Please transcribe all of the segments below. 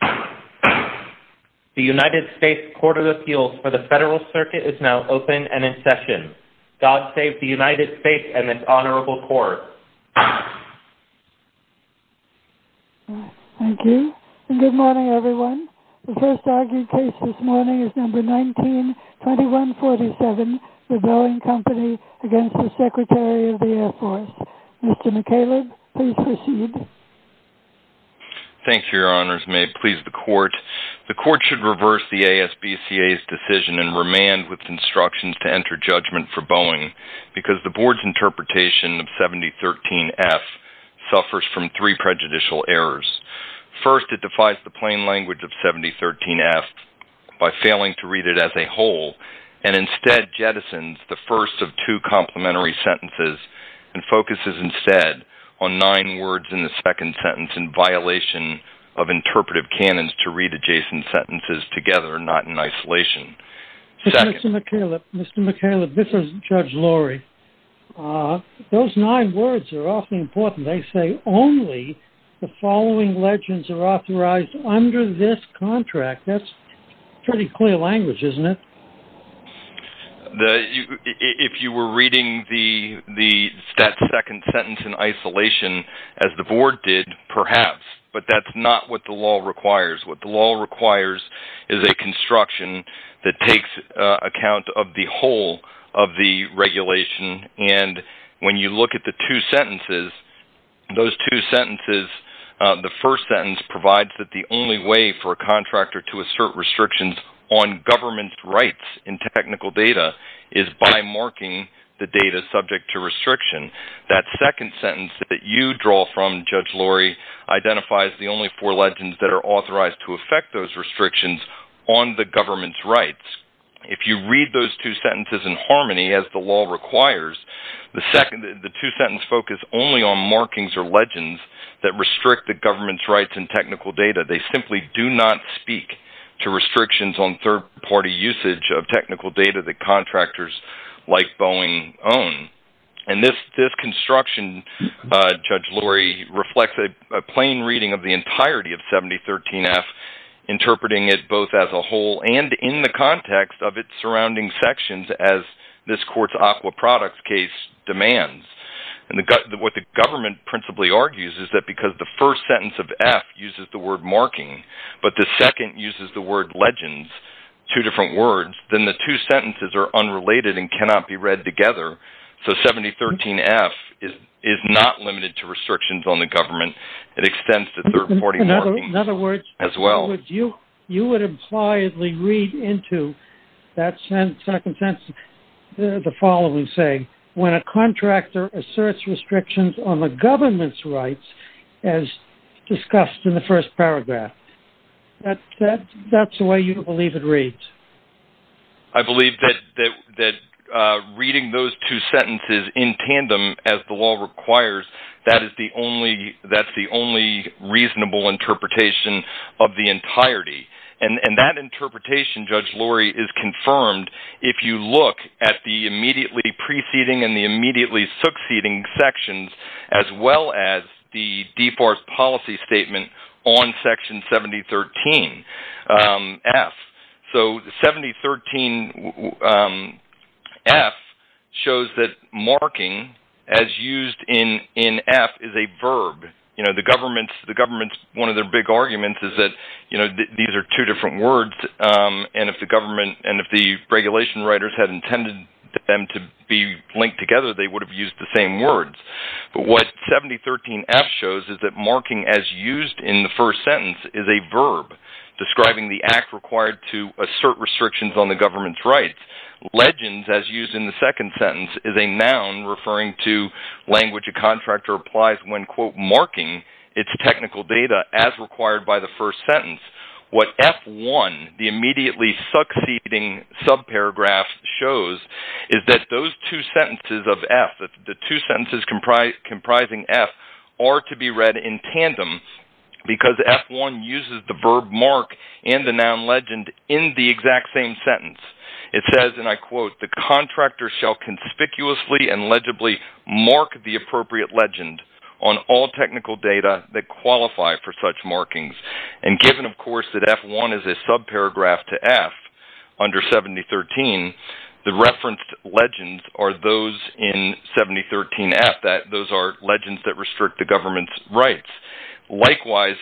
The United States Court of Appeals for the Federal Circuit is now open and in session. God save the United States and its Honorable Court. Thank you, and good morning everyone. The first argued case this morning is number 19-2147, the Boeing Company v. Secretary of the Air Force. Mr. McCaleb, please proceed. Thank you, Your Honors. May it please the Court. The Court should reverse the ASBCA's decision and remand with instructions to enter judgment for Boeing because the Board's interpretation of 7013F suffers from three prejudicial errors. First, it defies the plain language of 7013F by failing to read it as a whole and instead jettisons the first of two complementary sentences and focuses instead on nine words in the second sentence in violation of interpretive canons to read adjacent sentences together, not in isolation. Mr. McCaleb, this is Judge Lorry. Those nine words are awfully important. They say only the following legends are authorized under this contract. That's pretty clear language, isn't it? If you were reading the second sentence in isolation, as the Board did, perhaps, but that's not what the law requires. What the law requires is a construction that takes account of the whole of the regulation, and when you look at the two sentences, those two sentences, the first sentence provides that the only way for a contractor to assert restrictions on government's rights in technical data is by marking the data subject to restriction. That second sentence that you draw from, Judge Lorry, identifies the only four legends that are authorized to affect those restrictions on the government's rights. If you read those two sentences in harmony, as the law requires, the two sentences focus only on markings or legends that restrict the government's rights in technical data. They simply do not speak to restrictions on third-party usage of technical data that contractors like Boeing own. This construction, Judge Lorry, reflects a plain reading of the entirety of 7013F, interpreting it both as a whole and in the context of its surrounding sections, as this court's aqua products case demands. What the government principally argues is that because the first sentence of F uses the word marking, but the second uses the word legends, two different words, then the two sentences are unrelated and cannot be read together. So 7013F is not limited to restrictions on the government. It extends to third-party markings as well. In other words, you would impliedly read into that second sentence the following saying, when a contractor asserts restrictions on the government's rights, as discussed in the first paragraph. That's the way you believe it reads. I believe that reading those two sentences in tandem, as the law requires, that is the only reasonable interpretation of the entirety. And that interpretation, Judge Lorry, is confirmed if you look at the immediately preceding and the immediately succeeding sections, as well as the default policy statement on Section 7013F. So 7013F shows that marking, as used in F, is a verb. One of the big arguments is that these are two different words, and if the regulation writers had intended them to be linked together, they would have used the same words. But what 7013F shows is that marking, as used in the first sentence, is a verb, describing the act required to assert restrictions on the government's rights. Legends, as used in the second sentence, is a noun referring to language a contractor applies when, quote, marking its technical data as required by the first sentence. What F1, the immediately succeeding subparagraph, shows is that those two sentences of F, the two sentences comprising F, are to be read in tandem because F1 uses the verb mark and the noun legend in the exact same sentence. It says, and I quote, the contractor shall conspicuously and legibly mark the appropriate legend on all technical data that qualify for such markings. And given, of course, that F1 is a subparagraph to F under 7013, the referenced legends are those in 7013F. Those are legends that restrict the government's rights. Likewise,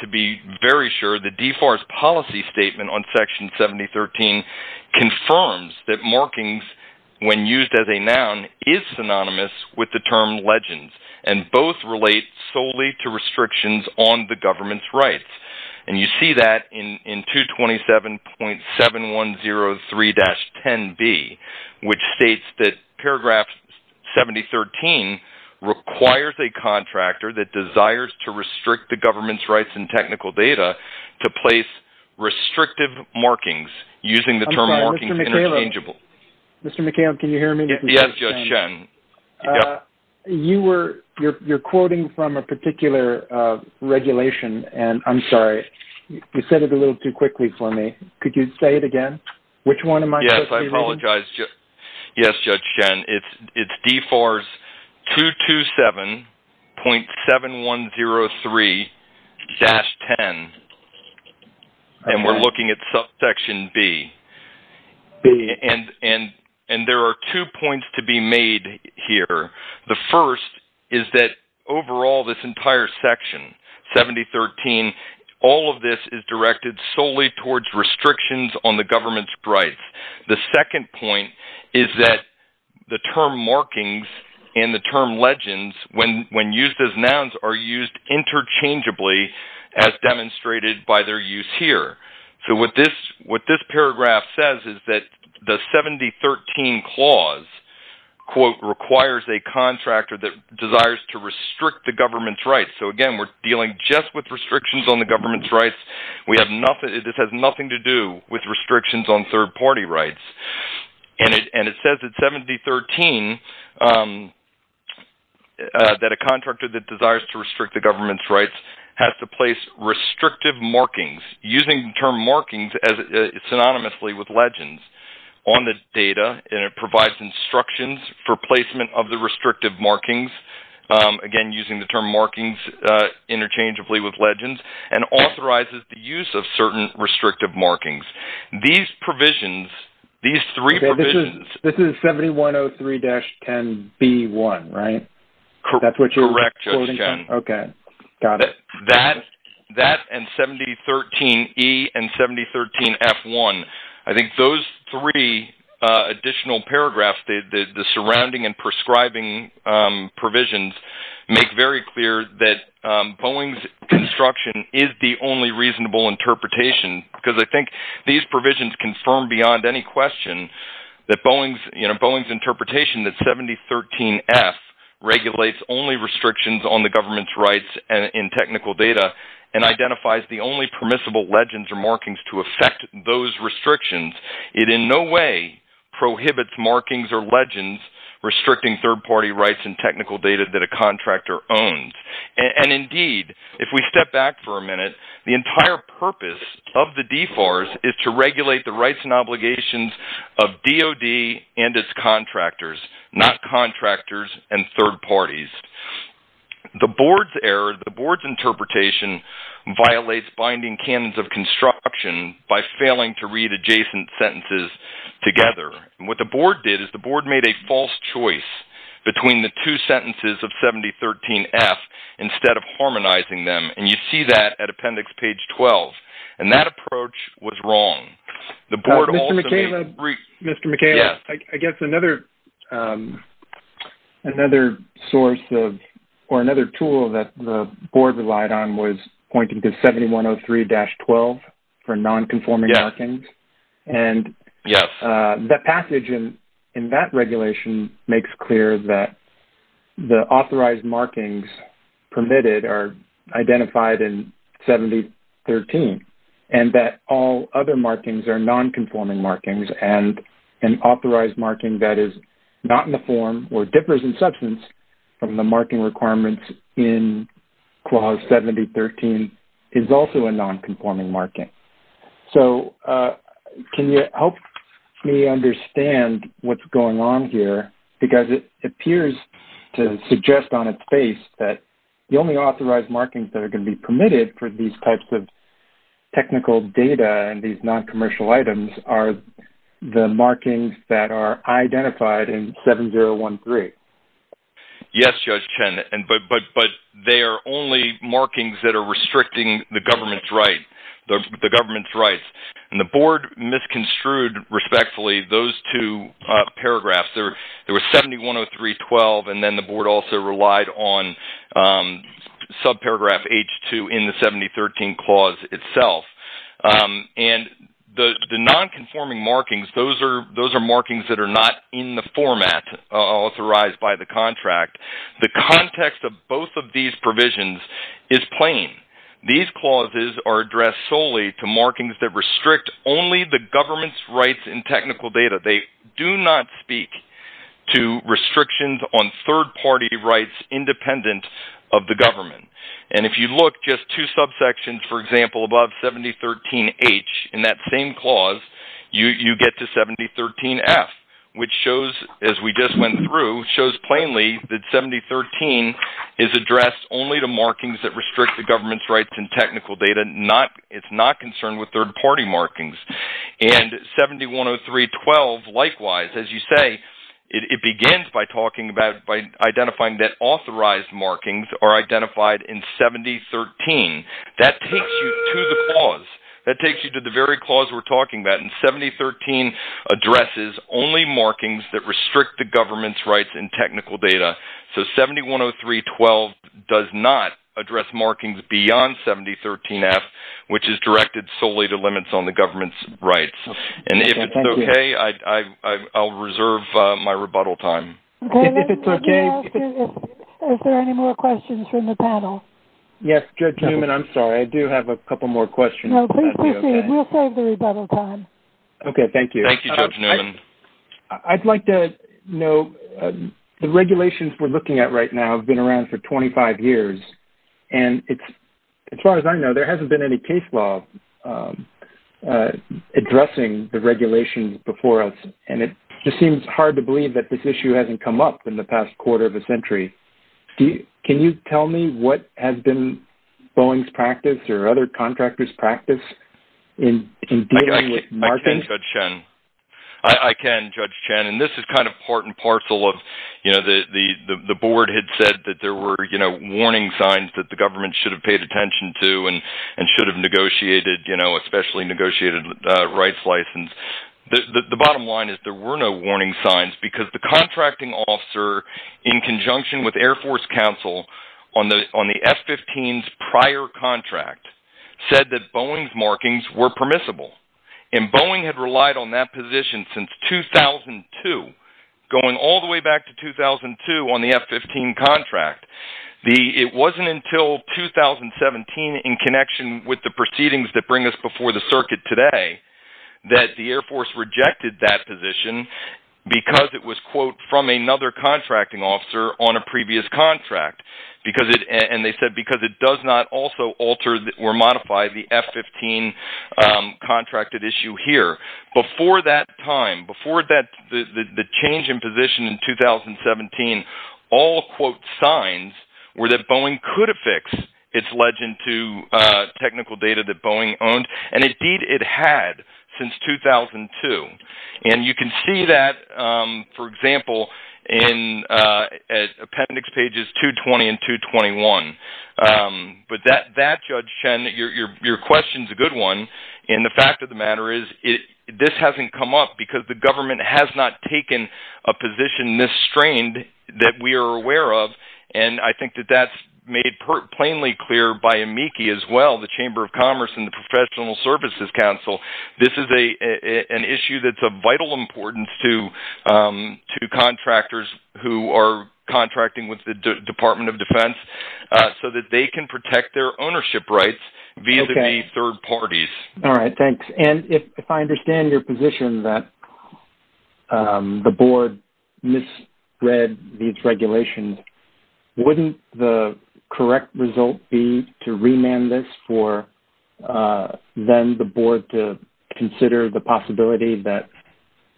to be very sure, the DFARS policy statement on section 7013 confirms that markings, when used as a noun, is synonymous with the term legends, and both relate solely to restrictions on the government's rights. And you see that in 227.7103-10B, which states that paragraph 7013 requires a contractor that desires to restrict the government's rights in technical data to place restrictive markings, using the term markings interchangeably. Mr. McHale, can you hear me? Yes, Sean. You're quoting from a particular regulation, and I'm sorry. You said it a little too quickly for me. Could you say it again? Which one am I supposed to be reading? Yes, I apologize. Yes, Judge Jen. It's DFARS 227.7103-10, and we're looking at subsection B. B. And there are two points to be made here. The first is that overall, this entire section, 7013, all of this is directed solely towards restrictions on the government's rights. The second point is that the term markings and the term legends, when used as nouns, are used interchangeably as demonstrated by their use here. So what this paragraph says is that the 7013 clause, quote, requires a contractor that desires to restrict the government's rights. So, again, we're dealing just with restrictions on the government's rights. This has nothing to do with restrictions on third-party rights. And it says that 7013, that a contractor that desires to restrict the government's rights has to place restrictive markings, using the term markings synonymously with legends, on the data, and it provides instructions for placement of the restrictive markings, again, using the term markings interchangeably with legends, and authorizes the use of certain restrictive markings. These provisions, these three provisions. This is 7103-10B1, right? Correct, Judge Jen. Okay, got it. That and 7013-E and 7013-F1, I think those three additional paragraphs, the surrounding and prescribing provisions, make very clear that Boeing's construction is the only reasonable interpretation, because I think these provisions confirm beyond any question that Boeing's interpretation that 7013-F regulates only restrictions on the government's rights in technical data and identifies the only permissible legends or markings to affect those restrictions. It in no way prohibits markings or legends restricting third-party rights in technical data that a contractor owns. And, indeed, if we step back for a minute, the entire purpose of the DFARS is to regulate the rights and obligations of DOD and its contractors, not contractors and third parties. The board's error, the board's interpretation, violates binding canons of construction by failing to read adjacent sentences together. What the board did is the board made a false choice between the two sentences of 7013-F instead of harmonizing them, and you see that at appendix page 12. And that approach was wrong. Mr. McHale, I guess another source or another tool that the board relied on was pointing to 7103-12 for nonconforming markings. Yes. The passage in that regulation makes clear that the authorized markings permitted are identified in 7013 and that all other markings are nonconforming markings, and an authorized marking that is not in the form or differs in substance from the marking requirements in clause 7013 is also a nonconforming marking. So can you help me understand what's going on here? Because it appears to suggest on its face that the only authorized markings that are going to be permitted for these types of technical data and these noncommercial items are the markings that are identified in 7013. Yes, Judge Chen, but they are only markings that are restricting the government's right. And the board misconstrued respectfully those two paragraphs. There was 7103-12, and then the board also relied on subparagraph H2 in the 7013 clause itself. And the nonconforming markings, those are markings that are not in the format authorized by the contract. The context of both of these provisions is plain. These clauses are addressed solely to markings that restrict only the government's rights in technical data. They do not speak to restrictions on third-party rights independent of the government. And if you look just two subsections, for example, above 7013-H in that same clause, you get to 7013-F, which shows, as we just went through, shows plainly that 7013 is addressed only to markings that restrict the government's rights in technical data. It's not concerned with third-party markings. And 7103-12, likewise, as you say, it begins by identifying that authorized markings are identified in 7013. That takes you to the clause. That takes you to the very clause we're talking about. And 7013 addresses only markings that restrict the government's rights in technical data. So 7103-12 does not address markings beyond 7013-F, which is directed solely to limits on the government's rights. And if it's okay, I'll reserve my rebuttal time. David, is there any more questions from the panel? Yes, Jim, and I'm sorry. I do have a couple more questions. No, please proceed. We'll save the rebuttal time. Okay, thank you. Thank you, Judge Newman. I'd like to know, the regulations we're looking at right now have been around for 25 years. And as far as I know, there hasn't been any case law addressing the regulations before us. And it just seems hard to believe that this issue hasn't come up in the past quarter of a century. Can you tell me what has been Boeing's practice or other contractors' practice in dealing with markings? I can, Judge Chen. I can, Judge Chen. And this is kind of part and parcel of, you know, the board had said that there were, you know, warning signs that the government should have paid attention to and should have negotiated, you know, especially negotiated rights license. The bottom line is there were no warning signs because the contracting officer, in conjunction with Air Force counsel on the F-15's prior contract, said that Boeing's markings were permissible. And Boeing had relied on that position since 2002, going all the way back to 2002 on the F-15 contract. It wasn't until 2017, in connection with the proceedings that bring us before the circuit today, that the Air Force rejected that position because it was, quote, from another contracting officer on a previous contract. And they said because it does not also alter or modify the F-15 contracted issue here. Before that time, before the change in position in 2017, all, quote, signs were that Boeing could affix its legend to technical data that Boeing owned. And, indeed, it had since 2002. And you can see that, for example, in appendix pages 220 and 221. But that, Judge Chen, your question's a good one. And the fact of the matter is this hasn't come up because the government has not taken a position this strained that we are aware of. And I think that that's made plainly clear by amici as well, the Chamber of Commerce and the Professional Services Council. This is an issue that's of vital importance to contractors who are contracting with the Department of Defense so that they can protect their ownership rights via the three third parties. All right, thanks. And if I understand your position that the board misread these regulations, wouldn't the correct result be to remand this for then the board to consider the possibility that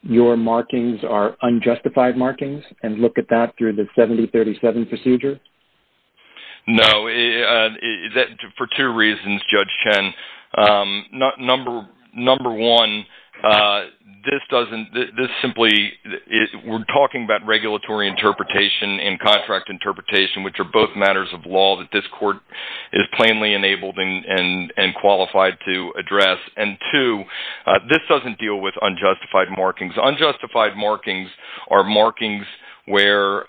your markings are unjustified markings and look at that through the 7037 procedure? No. For two reasons, Judge Chen. Number one, we're talking about regulatory interpretation and contract interpretation, which are both matters of law that this court is plainly enabled and qualified to address. And, two, this doesn't deal with unjustified markings. Unjustified markings are markings where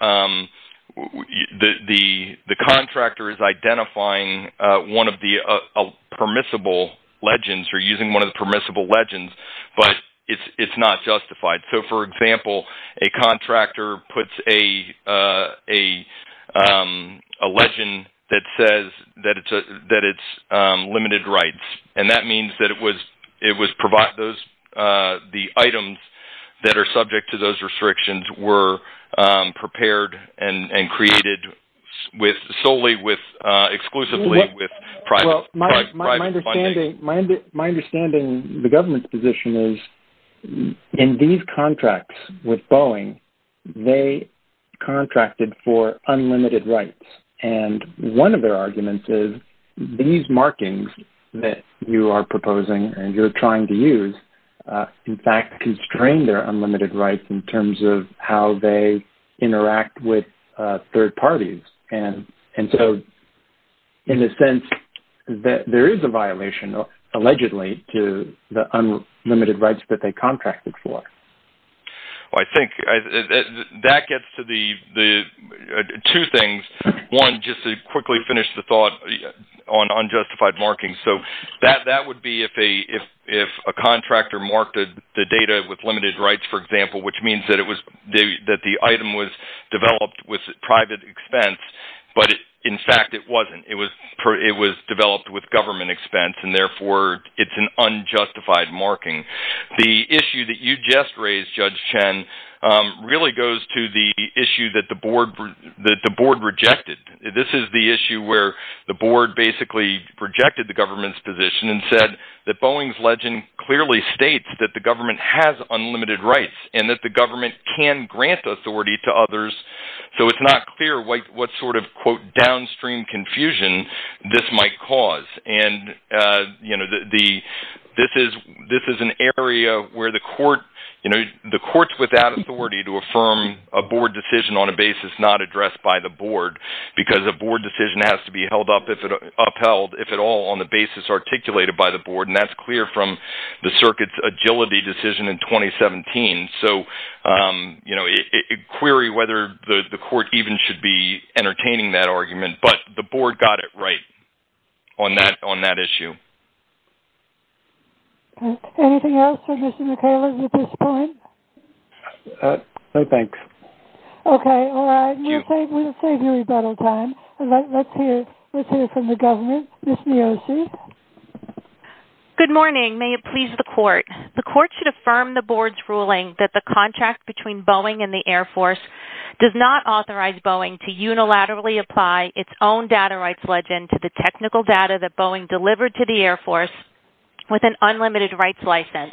the contractor is identifying one of the permissible legends or using one of the permissible legends, but it's not justified. So, for example, a contractor puts a legend that says that it's limited rights. And that means that the items that are subject to those restrictions were prepared and created solely exclusively with private funding. My understanding the government's position is in these contracts with Boeing, they contracted for unlimited rights. And one of their arguments is these markings that you are proposing and you're trying to use, in fact, constrain their unlimited rights in terms of how they interact with third parties. And so, in a sense, there is a violation, allegedly, to the unlimited rights that they contracted for. Well, I think that gets to two things. One, just to quickly finish the thought on unjustified markings. So that would be if a contractor marked the data with limited rights, for example, which means that the item was developed with private expense. But, in fact, it wasn't. It was developed with government expense, and, therefore, it's an unjustified marking. The issue that you just raised, Judge Chen, really goes to the issue that the board rejected. This is the issue where the board basically rejected the government's position and said that Boeing's legend clearly states that the government has unlimited rights and that the government can grant authority to others. So it's not clear what sort of, quote, downstream confusion this might cause. This is an area where the court's without authority to affirm a board decision on a basis not addressed by the board because a board decision has to be upheld, if at all, on the basis articulated by the board. And that's clear from the circuit's agility decision in 2017. So query whether the court even should be entertaining that argument. But the board got it right on that issue. Anything else from Mr. McCaleb at this point? No, thanks. Okay, all right. We'll save you rebuttal time. Let's hear from the government. Ms. Miosi. Good morning. May it please the court. The court should affirm the board's ruling that the contract between Boeing and the Air Force does not authorize Boeing to unilaterally apply its own data rights legend to the technical data that Boeing delivered to the Air Force with an unlimited rights license.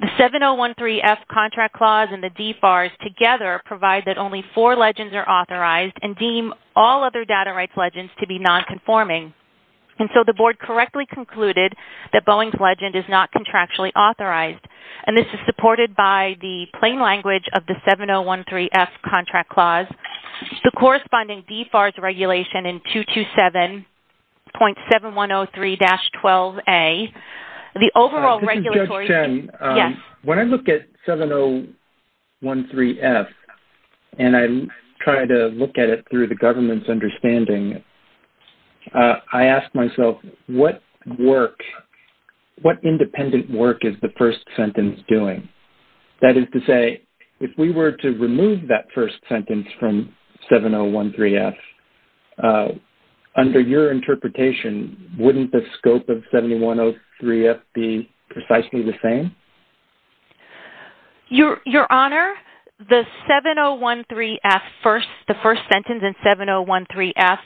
The 7013F contract clause and the DFARS together provide that only four legends are authorized and deem all other data rights legends to be nonconforming. And so the board correctly concluded that Boeing's legend is not contractually authorized. And this is supported by the plain language of the 7013F contract clause. The corresponding DFARS regulation in 227.7103-12A, the overall regulatory. This is Judge Chen. Yes. When I look at 7013F and I try to look at it through the government's understanding, I ask myself what work, what independent work is the first sentence doing? That is to say, if we were to remove that first sentence from 7013F, under your interpretation, wouldn't the scope of 7103F be precisely the same? Your Honor, the 7013F, the first sentence in 7013F,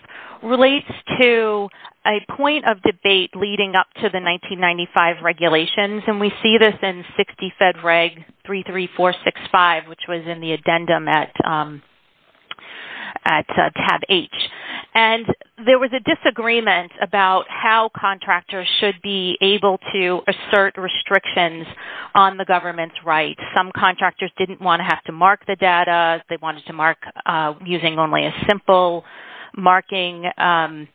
relates to a point of debate leading up to the 1995 regulations. And we see this in 60 Fed Reg 33465, which was in the addendum at tab H. And there was a disagreement about how contractors should be able to assert restrictions on the government's rights. Some contractors didn't want to have to mark the data. They wanted to mark using only a simple marking, and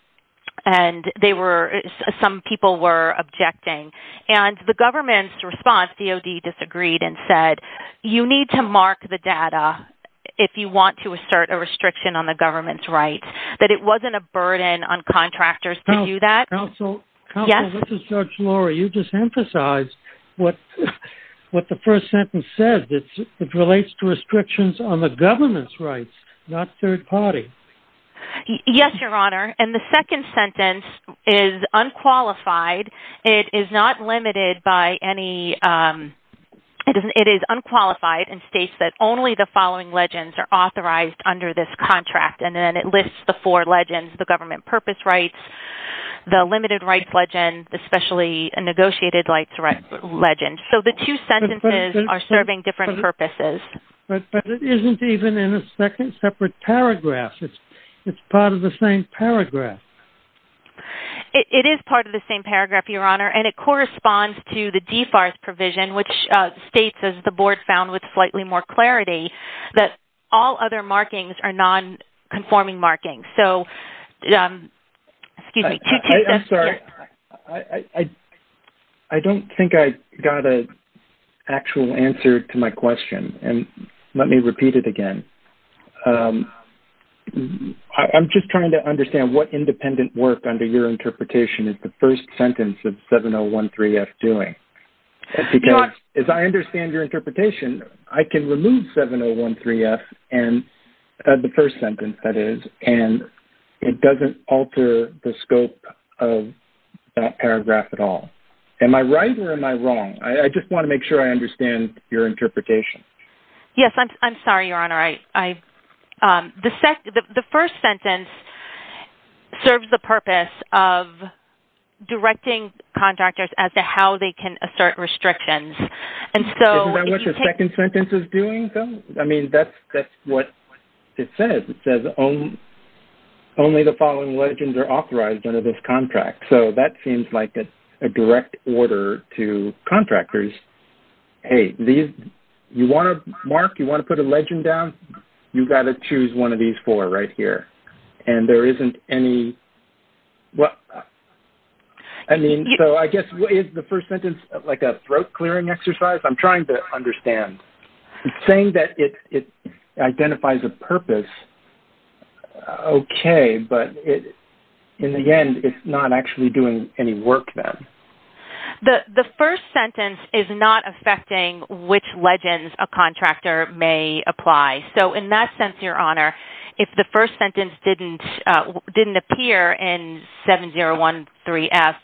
some people were objecting. And the government's response, DOD disagreed and said, you need to mark the data if you want to assert a restriction on the government's rights. That it wasn't a burden on contractors to do that. Counsel, this is Judge Lori. You just emphasized what the first sentence says. It relates to restrictions on the government's rights, not third party. Yes, Your Honor. And the second sentence is unqualified. It is not limited by any, it is unqualified and states that only the following legends are authorized under this contract. And then it lists the four legends, the government purpose rights, the limited rights legend, especially a negotiated rights legend. So the two sentences are serving different purposes. But it isn't even in a separate paragraph. It's part of the same paragraph. It is part of the same paragraph, Your Honor, and it corresponds to the DFARS provision, which states, as the board found with slightly more clarity, that all other markings are non-conforming markings. So, excuse me. I'm sorry. I don't think I got an actual answer to my question. And let me repeat it again. I'm just trying to understand what independent work under your interpretation is the first sentence of 7013F doing. Because as I understand your interpretation, I can remove 7013F, the first sentence that is, and it doesn't alter the scope of that paragraph at all. Am I right or am I wrong? I just want to make sure I understand your interpretation. Yes, I'm sorry, Your Honor. The first sentence serves the purpose of directing contractors as to how they can assert restrictions. Isn't that what the second sentence is doing, though? I mean, that's what it says. It says, only the following legends are authorized under this contract. Hey, Mark, you want to put a legend down? You've got to choose one of these four right here. And there isn't any. I mean, so I guess the first sentence is like a throat-clearing exercise. I'm trying to understand. It's saying that it identifies a purpose. Okay, but in the end, it's not actually doing any work then. The first sentence is not affecting which legends a contractor may apply. So in that sense, Your Honor, if the first sentence didn't appear in 7013F,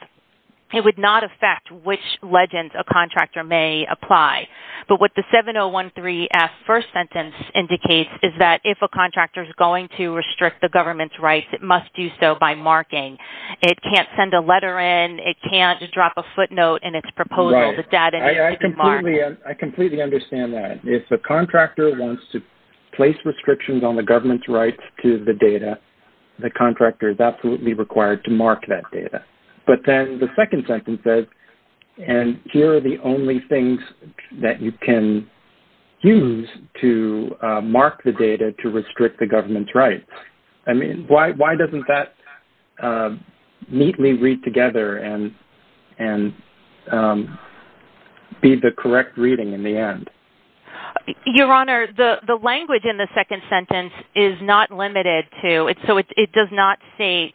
it would not affect which legends a contractor may apply. But what the 7013F first sentence indicates is that if a contractor is going to restrict the government's rights, it must do so by marking. It can't send a letter in. It can't drop a footnote in its proposal. I completely understand that. If a contractor wants to place restrictions on the government's rights to the data, the contractor is absolutely required to mark that data. But then the second sentence says, and here are the only things that you can use to mark the data to restrict the government's rights. I mean, why doesn't that neatly read together and be the correct reading in the end? Your Honor, the language in the second sentence is not limited to, so it does not say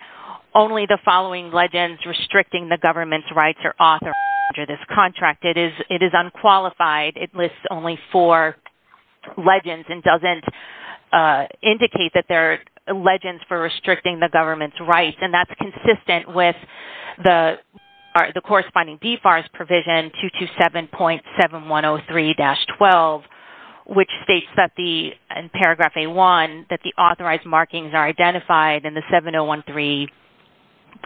only the following legends restricting the government's rights are authorized under this contract. It is unqualified. It lists only four legends and doesn't indicate that there are legends for restricting the government's rights, and that's consistent with the corresponding DFARS provision 227.7103-12, which states in paragraph A-1 that the authorized markings are identified in the 7013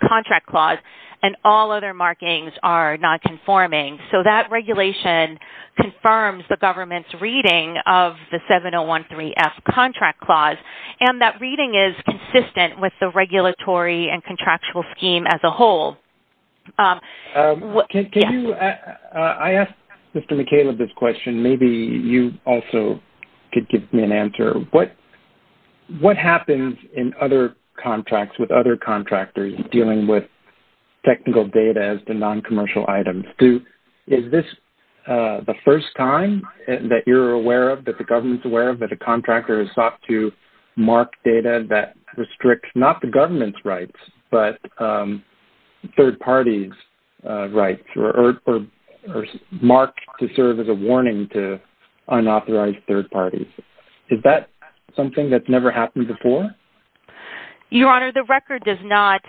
contract clause, and all other markings are not conforming. So that regulation confirms the government's reading of the 7013-F contract clause, and that reading is consistent with the regulatory and contractual scheme as a whole. I asked Mr. McCaleb this question. Maybe you also could give me an answer. What happens in other contracts with other contractors dealing with technical data as the noncommercial items? Is this the first time that you're aware of, that the government's aware of, that a contractor has sought to mark data that restricts not the government's rights but third parties' rights or mark to serve as a warning to unauthorized third parties? Is that something that's never happened before? Your Honor, the record does not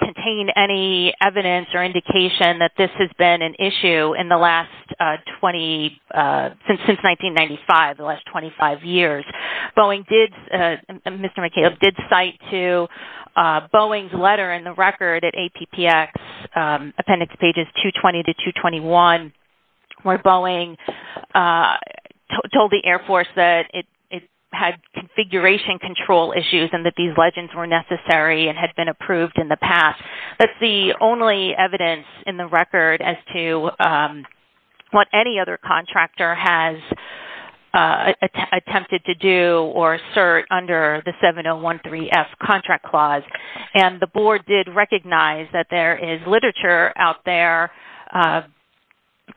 contain any evidence or indication that this has been an issue since 1995, the last 25 years. Mr. McCaleb did cite to Boeing's letter in the record at APPX, appendix pages 220 to 221, where Boeing told the Air Force that it had configuration control issues and that these legends were necessary and had been approved in the past. That's the only evidence in the record as to what any other contractor has attempted to do or assert under the 7013-F contract clause, and the board did recognize that there is literature out there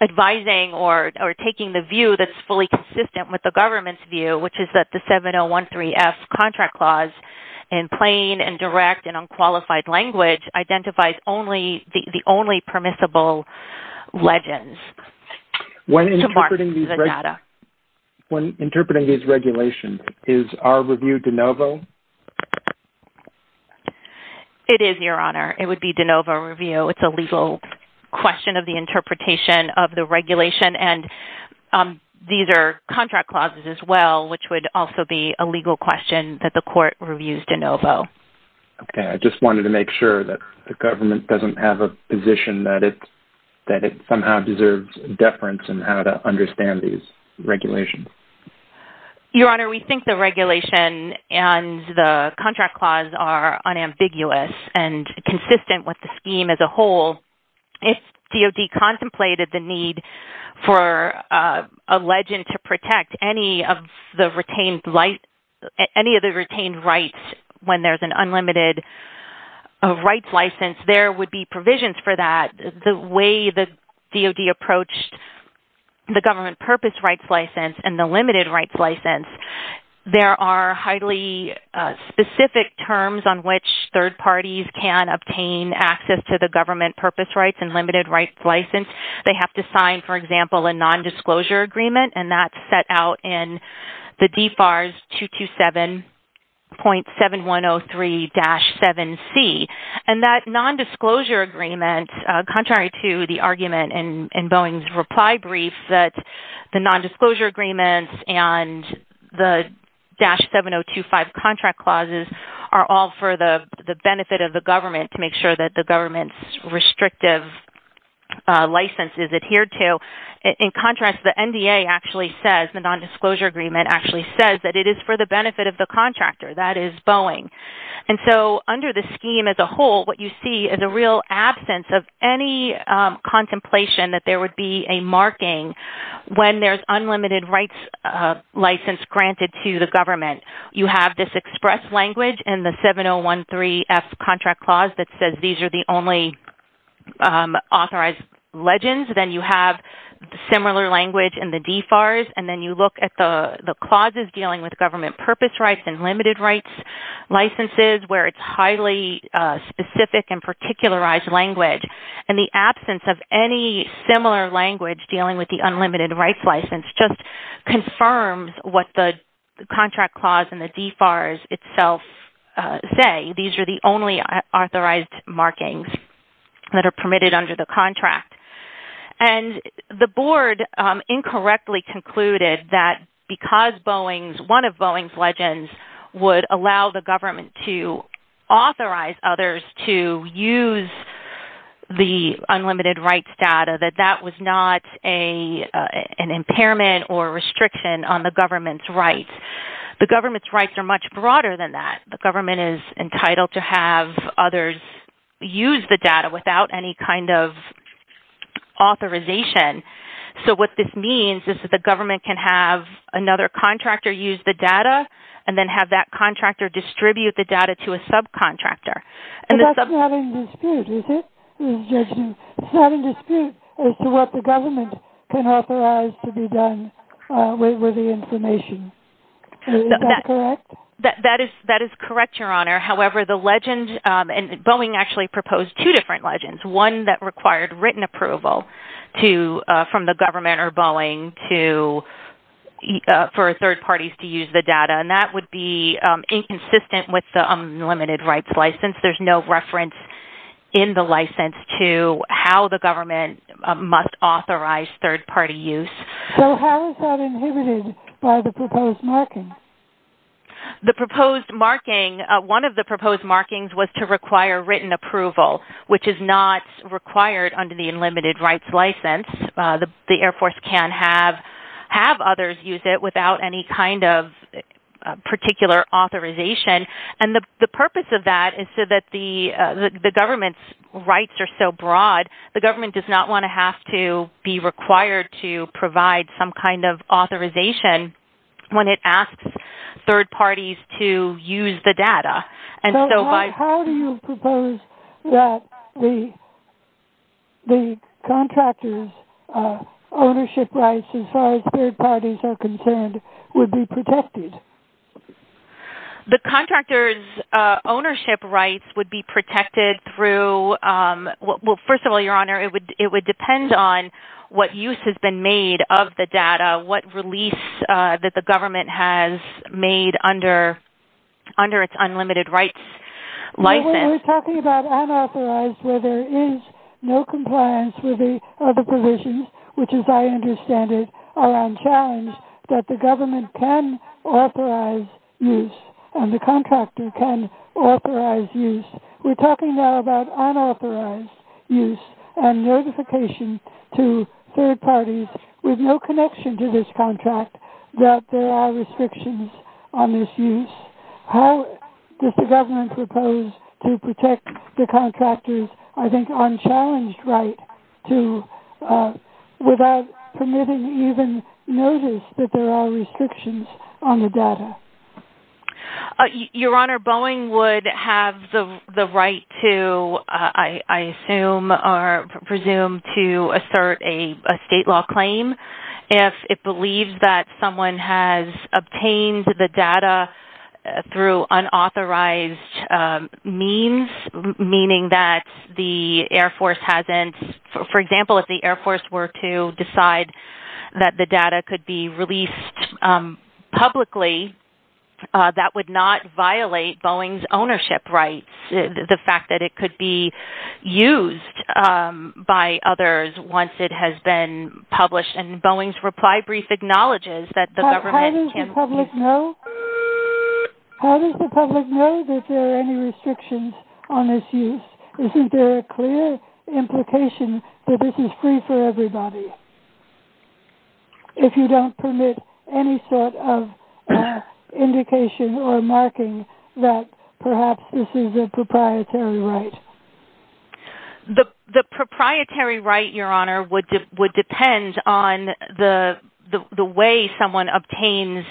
advising or taking the view that's fully consistent with the government's view, which is that the 7013-F contract clause in plain and direct and unqualified language identifies the only permissible legends to mark the data. When interpreting these regulations, is our review de novo? It is, Your Honor. It would be de novo review. It's a legal question of the interpretation of the regulation, and these are contract clauses as well, which would also be a legal question that the court reviews de novo. Okay. I just wanted to make sure that the government doesn't have a position that it somehow deserves deference in how to understand these regulations. Your Honor, we think the regulation and the contract clause are unambiguous and consistent with the scheme as a whole. If DOD contemplated the need for a legend to protect any of the retained rights when there's an unlimited rights license, there would be provisions for that. The way the DOD approached the government purpose rights license and the limited rights license, there are highly specific terms on which third parties can obtain access to the government purpose rights and limited rights license. They have to sign, for example, a nondisclosure agreement, and that's set out in the DFARS 227.7103-7C. That nondisclosure agreement, contrary to the argument in Boeing's reply brief, that the nondisclosure agreements and the 7025 contract clauses are all for the benefit of the government to make sure that the government's restrictive license is adhered to. In contrast, the NDA actually says, the nondisclosure agreement actually says, that it is for the benefit of the contractor. That is Boeing. And so under the scheme as a whole, what you see is a real absence of any contemplation that there would be a marking when there's unlimited rights license granted to the government. You have this express language in the 7013F contract clause that says these are the only authorized legends. Then you have similar language in the DFARS, and then you look at the clauses dealing with government purpose rights and limited rights licenses where it's highly specific and particularized language. And the absence of any similar language dealing with the unlimited rights license just confirms what the contract clause and the DFARS itself say. These are the only authorized markings that are permitted under the contract. And the board incorrectly concluded that because one of Boeing's legends would allow the government to authorize others to use the unlimited rights data, that that was not an impairment or restriction on the government's rights. The government's rights are much broader than that. The government is entitled to have others use the data without any kind of authorization. So what this means is that the government can have another contractor use the data and then have that contractor distribute the data to a subcontractor. And that's not in dispute, is it? It's not in dispute as to what the government can authorize to be done with the information. Is that correct? That is correct, Your Honor. However, Boeing actually proposed two different legends, one that required written approval from the government or Boeing for third parties to use the data. And that would be inconsistent with the unlimited rights license. There's no reference in the license to how the government must authorize third-party use. So how is that inhibited by the proposed marking? The proposed marking, one of the proposed markings was to require written approval, which is not required under the unlimited rights license. The Air Force can have others use it without any kind of particular authorization. And the purpose of that is so that the government's rights are so broad, the government does not want to have to be required to provide some kind of authorization when it asks third parties to use the data. So how do you propose that the contractor's ownership rights, as far as third parties are concerned, would be protected? The contractor's ownership rights would be protected through, well, first of all, Your Honor, it would depend on what use has been made of the data, what release that the government has made under its unlimited rights license. We're talking about unauthorized where there is no compliance with the other provisions, which as I understand it are unchallenged, that the government can authorize use and the contractor can authorize use. We're talking now about unauthorized use and notification to third parties with no connection to this contract that there are restrictions on this use. How does the government propose to protect the contractor's, I think, unchallenged right to, without permitting even notice that there are restrictions on the data? Your Honor, Boeing would have the right to, I assume or presume, to assert a state law claim if it believes that someone has obtained the data through unauthorized means, meaning that the Air Force hasn't, for example, if the Air Force were to decide that the data could be released publicly, that would not violate Boeing's ownership rights. The fact that it could be used by others once it has been published and Boeing's reply brief acknowledges that the government can't How does the public know that there are any restrictions on this use? Isn't there a clear implication that this is free for everybody if you don't permit any sort of indication or marking that perhaps this is a proprietary right? The proprietary right, Your Honor, would depend on the way someone obtains,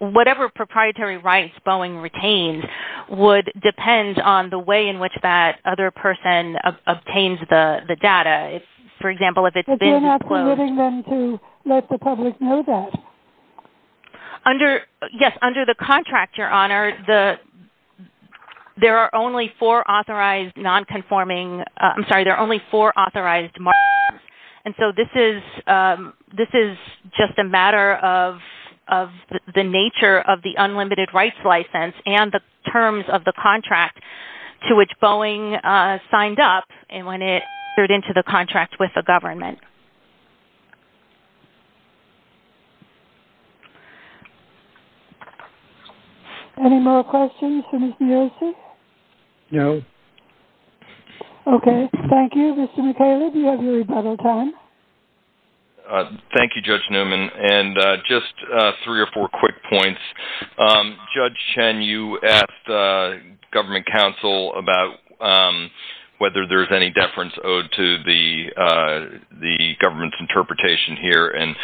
whatever proprietary rights Boeing retains would depend on the way in which that other person obtains the data. For example, if it's been disclosed. But you're not permitting them to let the public know that. Yes, under the contract, Your Honor, there are only four authorized non-conforming, I'm sorry, there are only four authorized markings. And so this is just a matter of the nature of the unlimited rights license and the terms of the contract to which Boeing signed up and when it entered into the contract with the government. Any more questions for Ms. Biosis? No. Okay, thank you. Mr. McCaleb, you have your rebuttal time. Thank you, Judge Newman. And just three or four quick points. Judge Chen, you asked government counsel about whether there's any deference owed to the government's interpretation here. And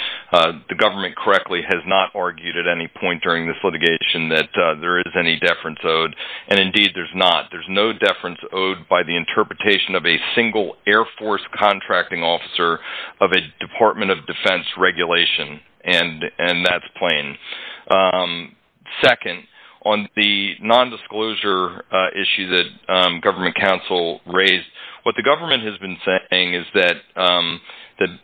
the government correctly has not argued at any point during this litigation that there is any deference owed. And indeed, there's not. There's no deference owed by the interpretation of a single Air Force contracting officer of a Department of Defense regulation. And that's plain. Second, on the nondisclosure issue that government counsel raised, what the government has been saying is that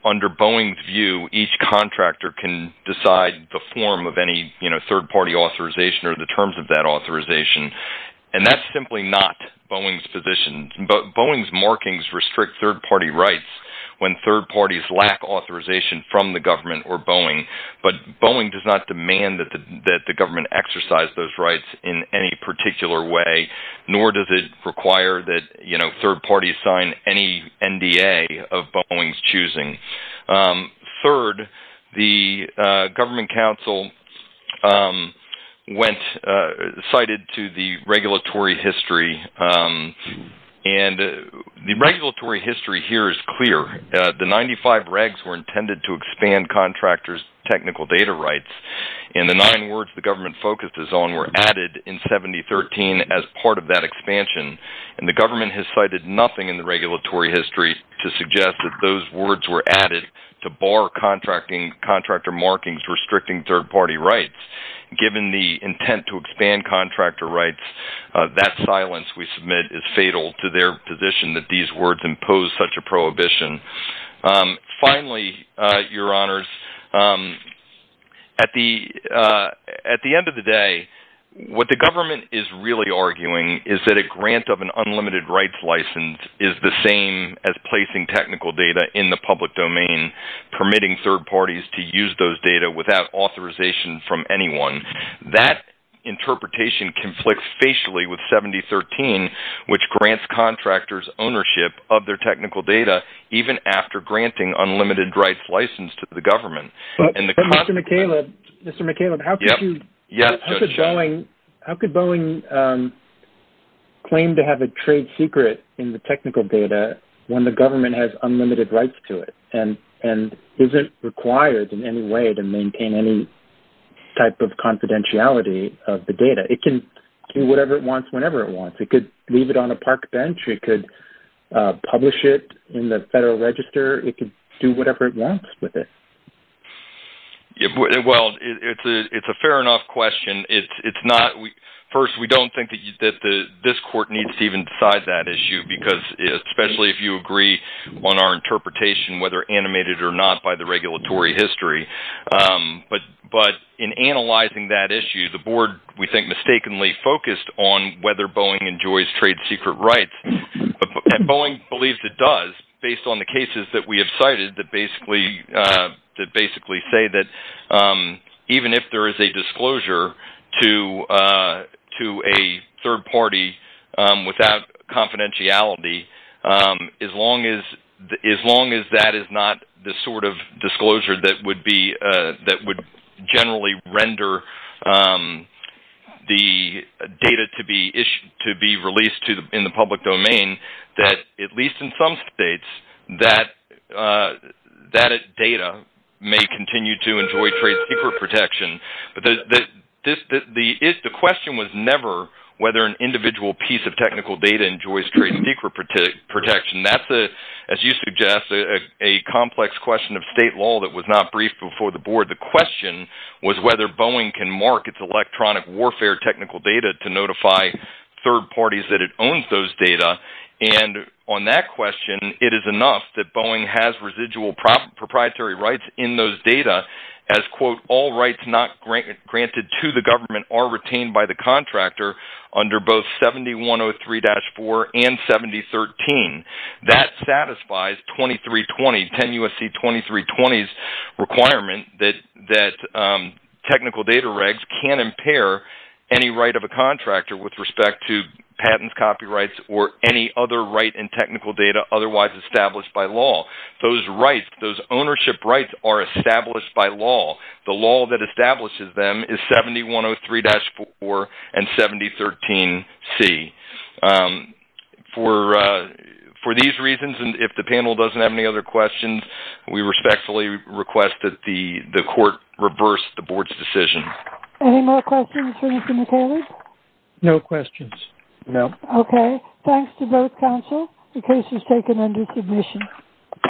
under Boeing's view, each contractor can decide the form of any third-party authorization or the terms of that authorization. And that's simply not Boeing's position. Boeing's markings restrict third-party rights when third parties lack authorization from the government or Boeing. But Boeing does not demand that the government exercise those rights in any particular way, nor does it require that third parties sign any NDA of Boeing's choosing. Third, the government counsel cited to the regulatory history. And the regulatory history here is clear. The 95 regs were intended to expand contractors' technical data rights. And the nine words the government focuses on were added in 7013 as part of that expansion. And the government has cited nothing in the regulatory history to suggest that those words were added to bar contractor markings restricting third-party rights. Given the intent to expand contractor rights, that silence we submit is fatal to their position that these words impose such a prohibition. Finally, your honors, at the end of the day, what the government is really arguing is that a grant of an unlimited rights license is the same as placing technical data in the public domain, permitting third parties to use those data without authorization from anyone. That interpretation conflicts facially with 7013, which grants contractors ownership of their technical data even after granting unlimited rights license to the government. But, Mr. McCaleb, how could Boeing claim to have a trade secret in the technical data when the government has unlimited rights to it and isn't required in any way to maintain any type of confidentiality of the data? It can do whatever it wants whenever it wants. It could leave it on a park bench. It could publish it in the Federal Register. It could do whatever it wants with it. Well, it's a fair enough question. First, we don't think that this court needs to even decide that issue, especially if you agree on our interpretation, whether animated or not by the regulatory history. But in analyzing that issue, the board, we think, mistakenly focused on whether Boeing enjoys trade secret rights. Boeing believes it does based on the cases that we have cited that basically say that even if there is a disclosure to a third party without confidentiality, as long as that is not the sort of disclosure that would generally render the data to be released in the public domain, that at least in some states that data may continue to enjoy trade secret protection. But the question was never whether an individual piece of technical data enjoys trade secret protection. That's, as you suggest, a complex question of state law that was not briefed before the board. The question was whether Boeing can mark its electronic warfare technical data to notify third parties that it owns those data. And on that question, it is enough that Boeing has residual proprietary rights in those data as, quote, all rights not granted to the government are retained by the contractor under both 7103-4 and 7013. That satisfies 2320, 10 U.S.C. 2320's requirement that technical data regs can impair any right of a contractor with respect to patents, copyrights, or any other right in technical data otherwise established by law. Those rights, those ownership rights, are established by law. The law that establishes them is 7103-4 and 7013C. For these reasons, and if the panel doesn't have any other questions, we respectfully request that the court reverse the board's decision. Any more questions for Mr. McHale? No questions. Okay. Thanks to both counsel. The case is taken under submission.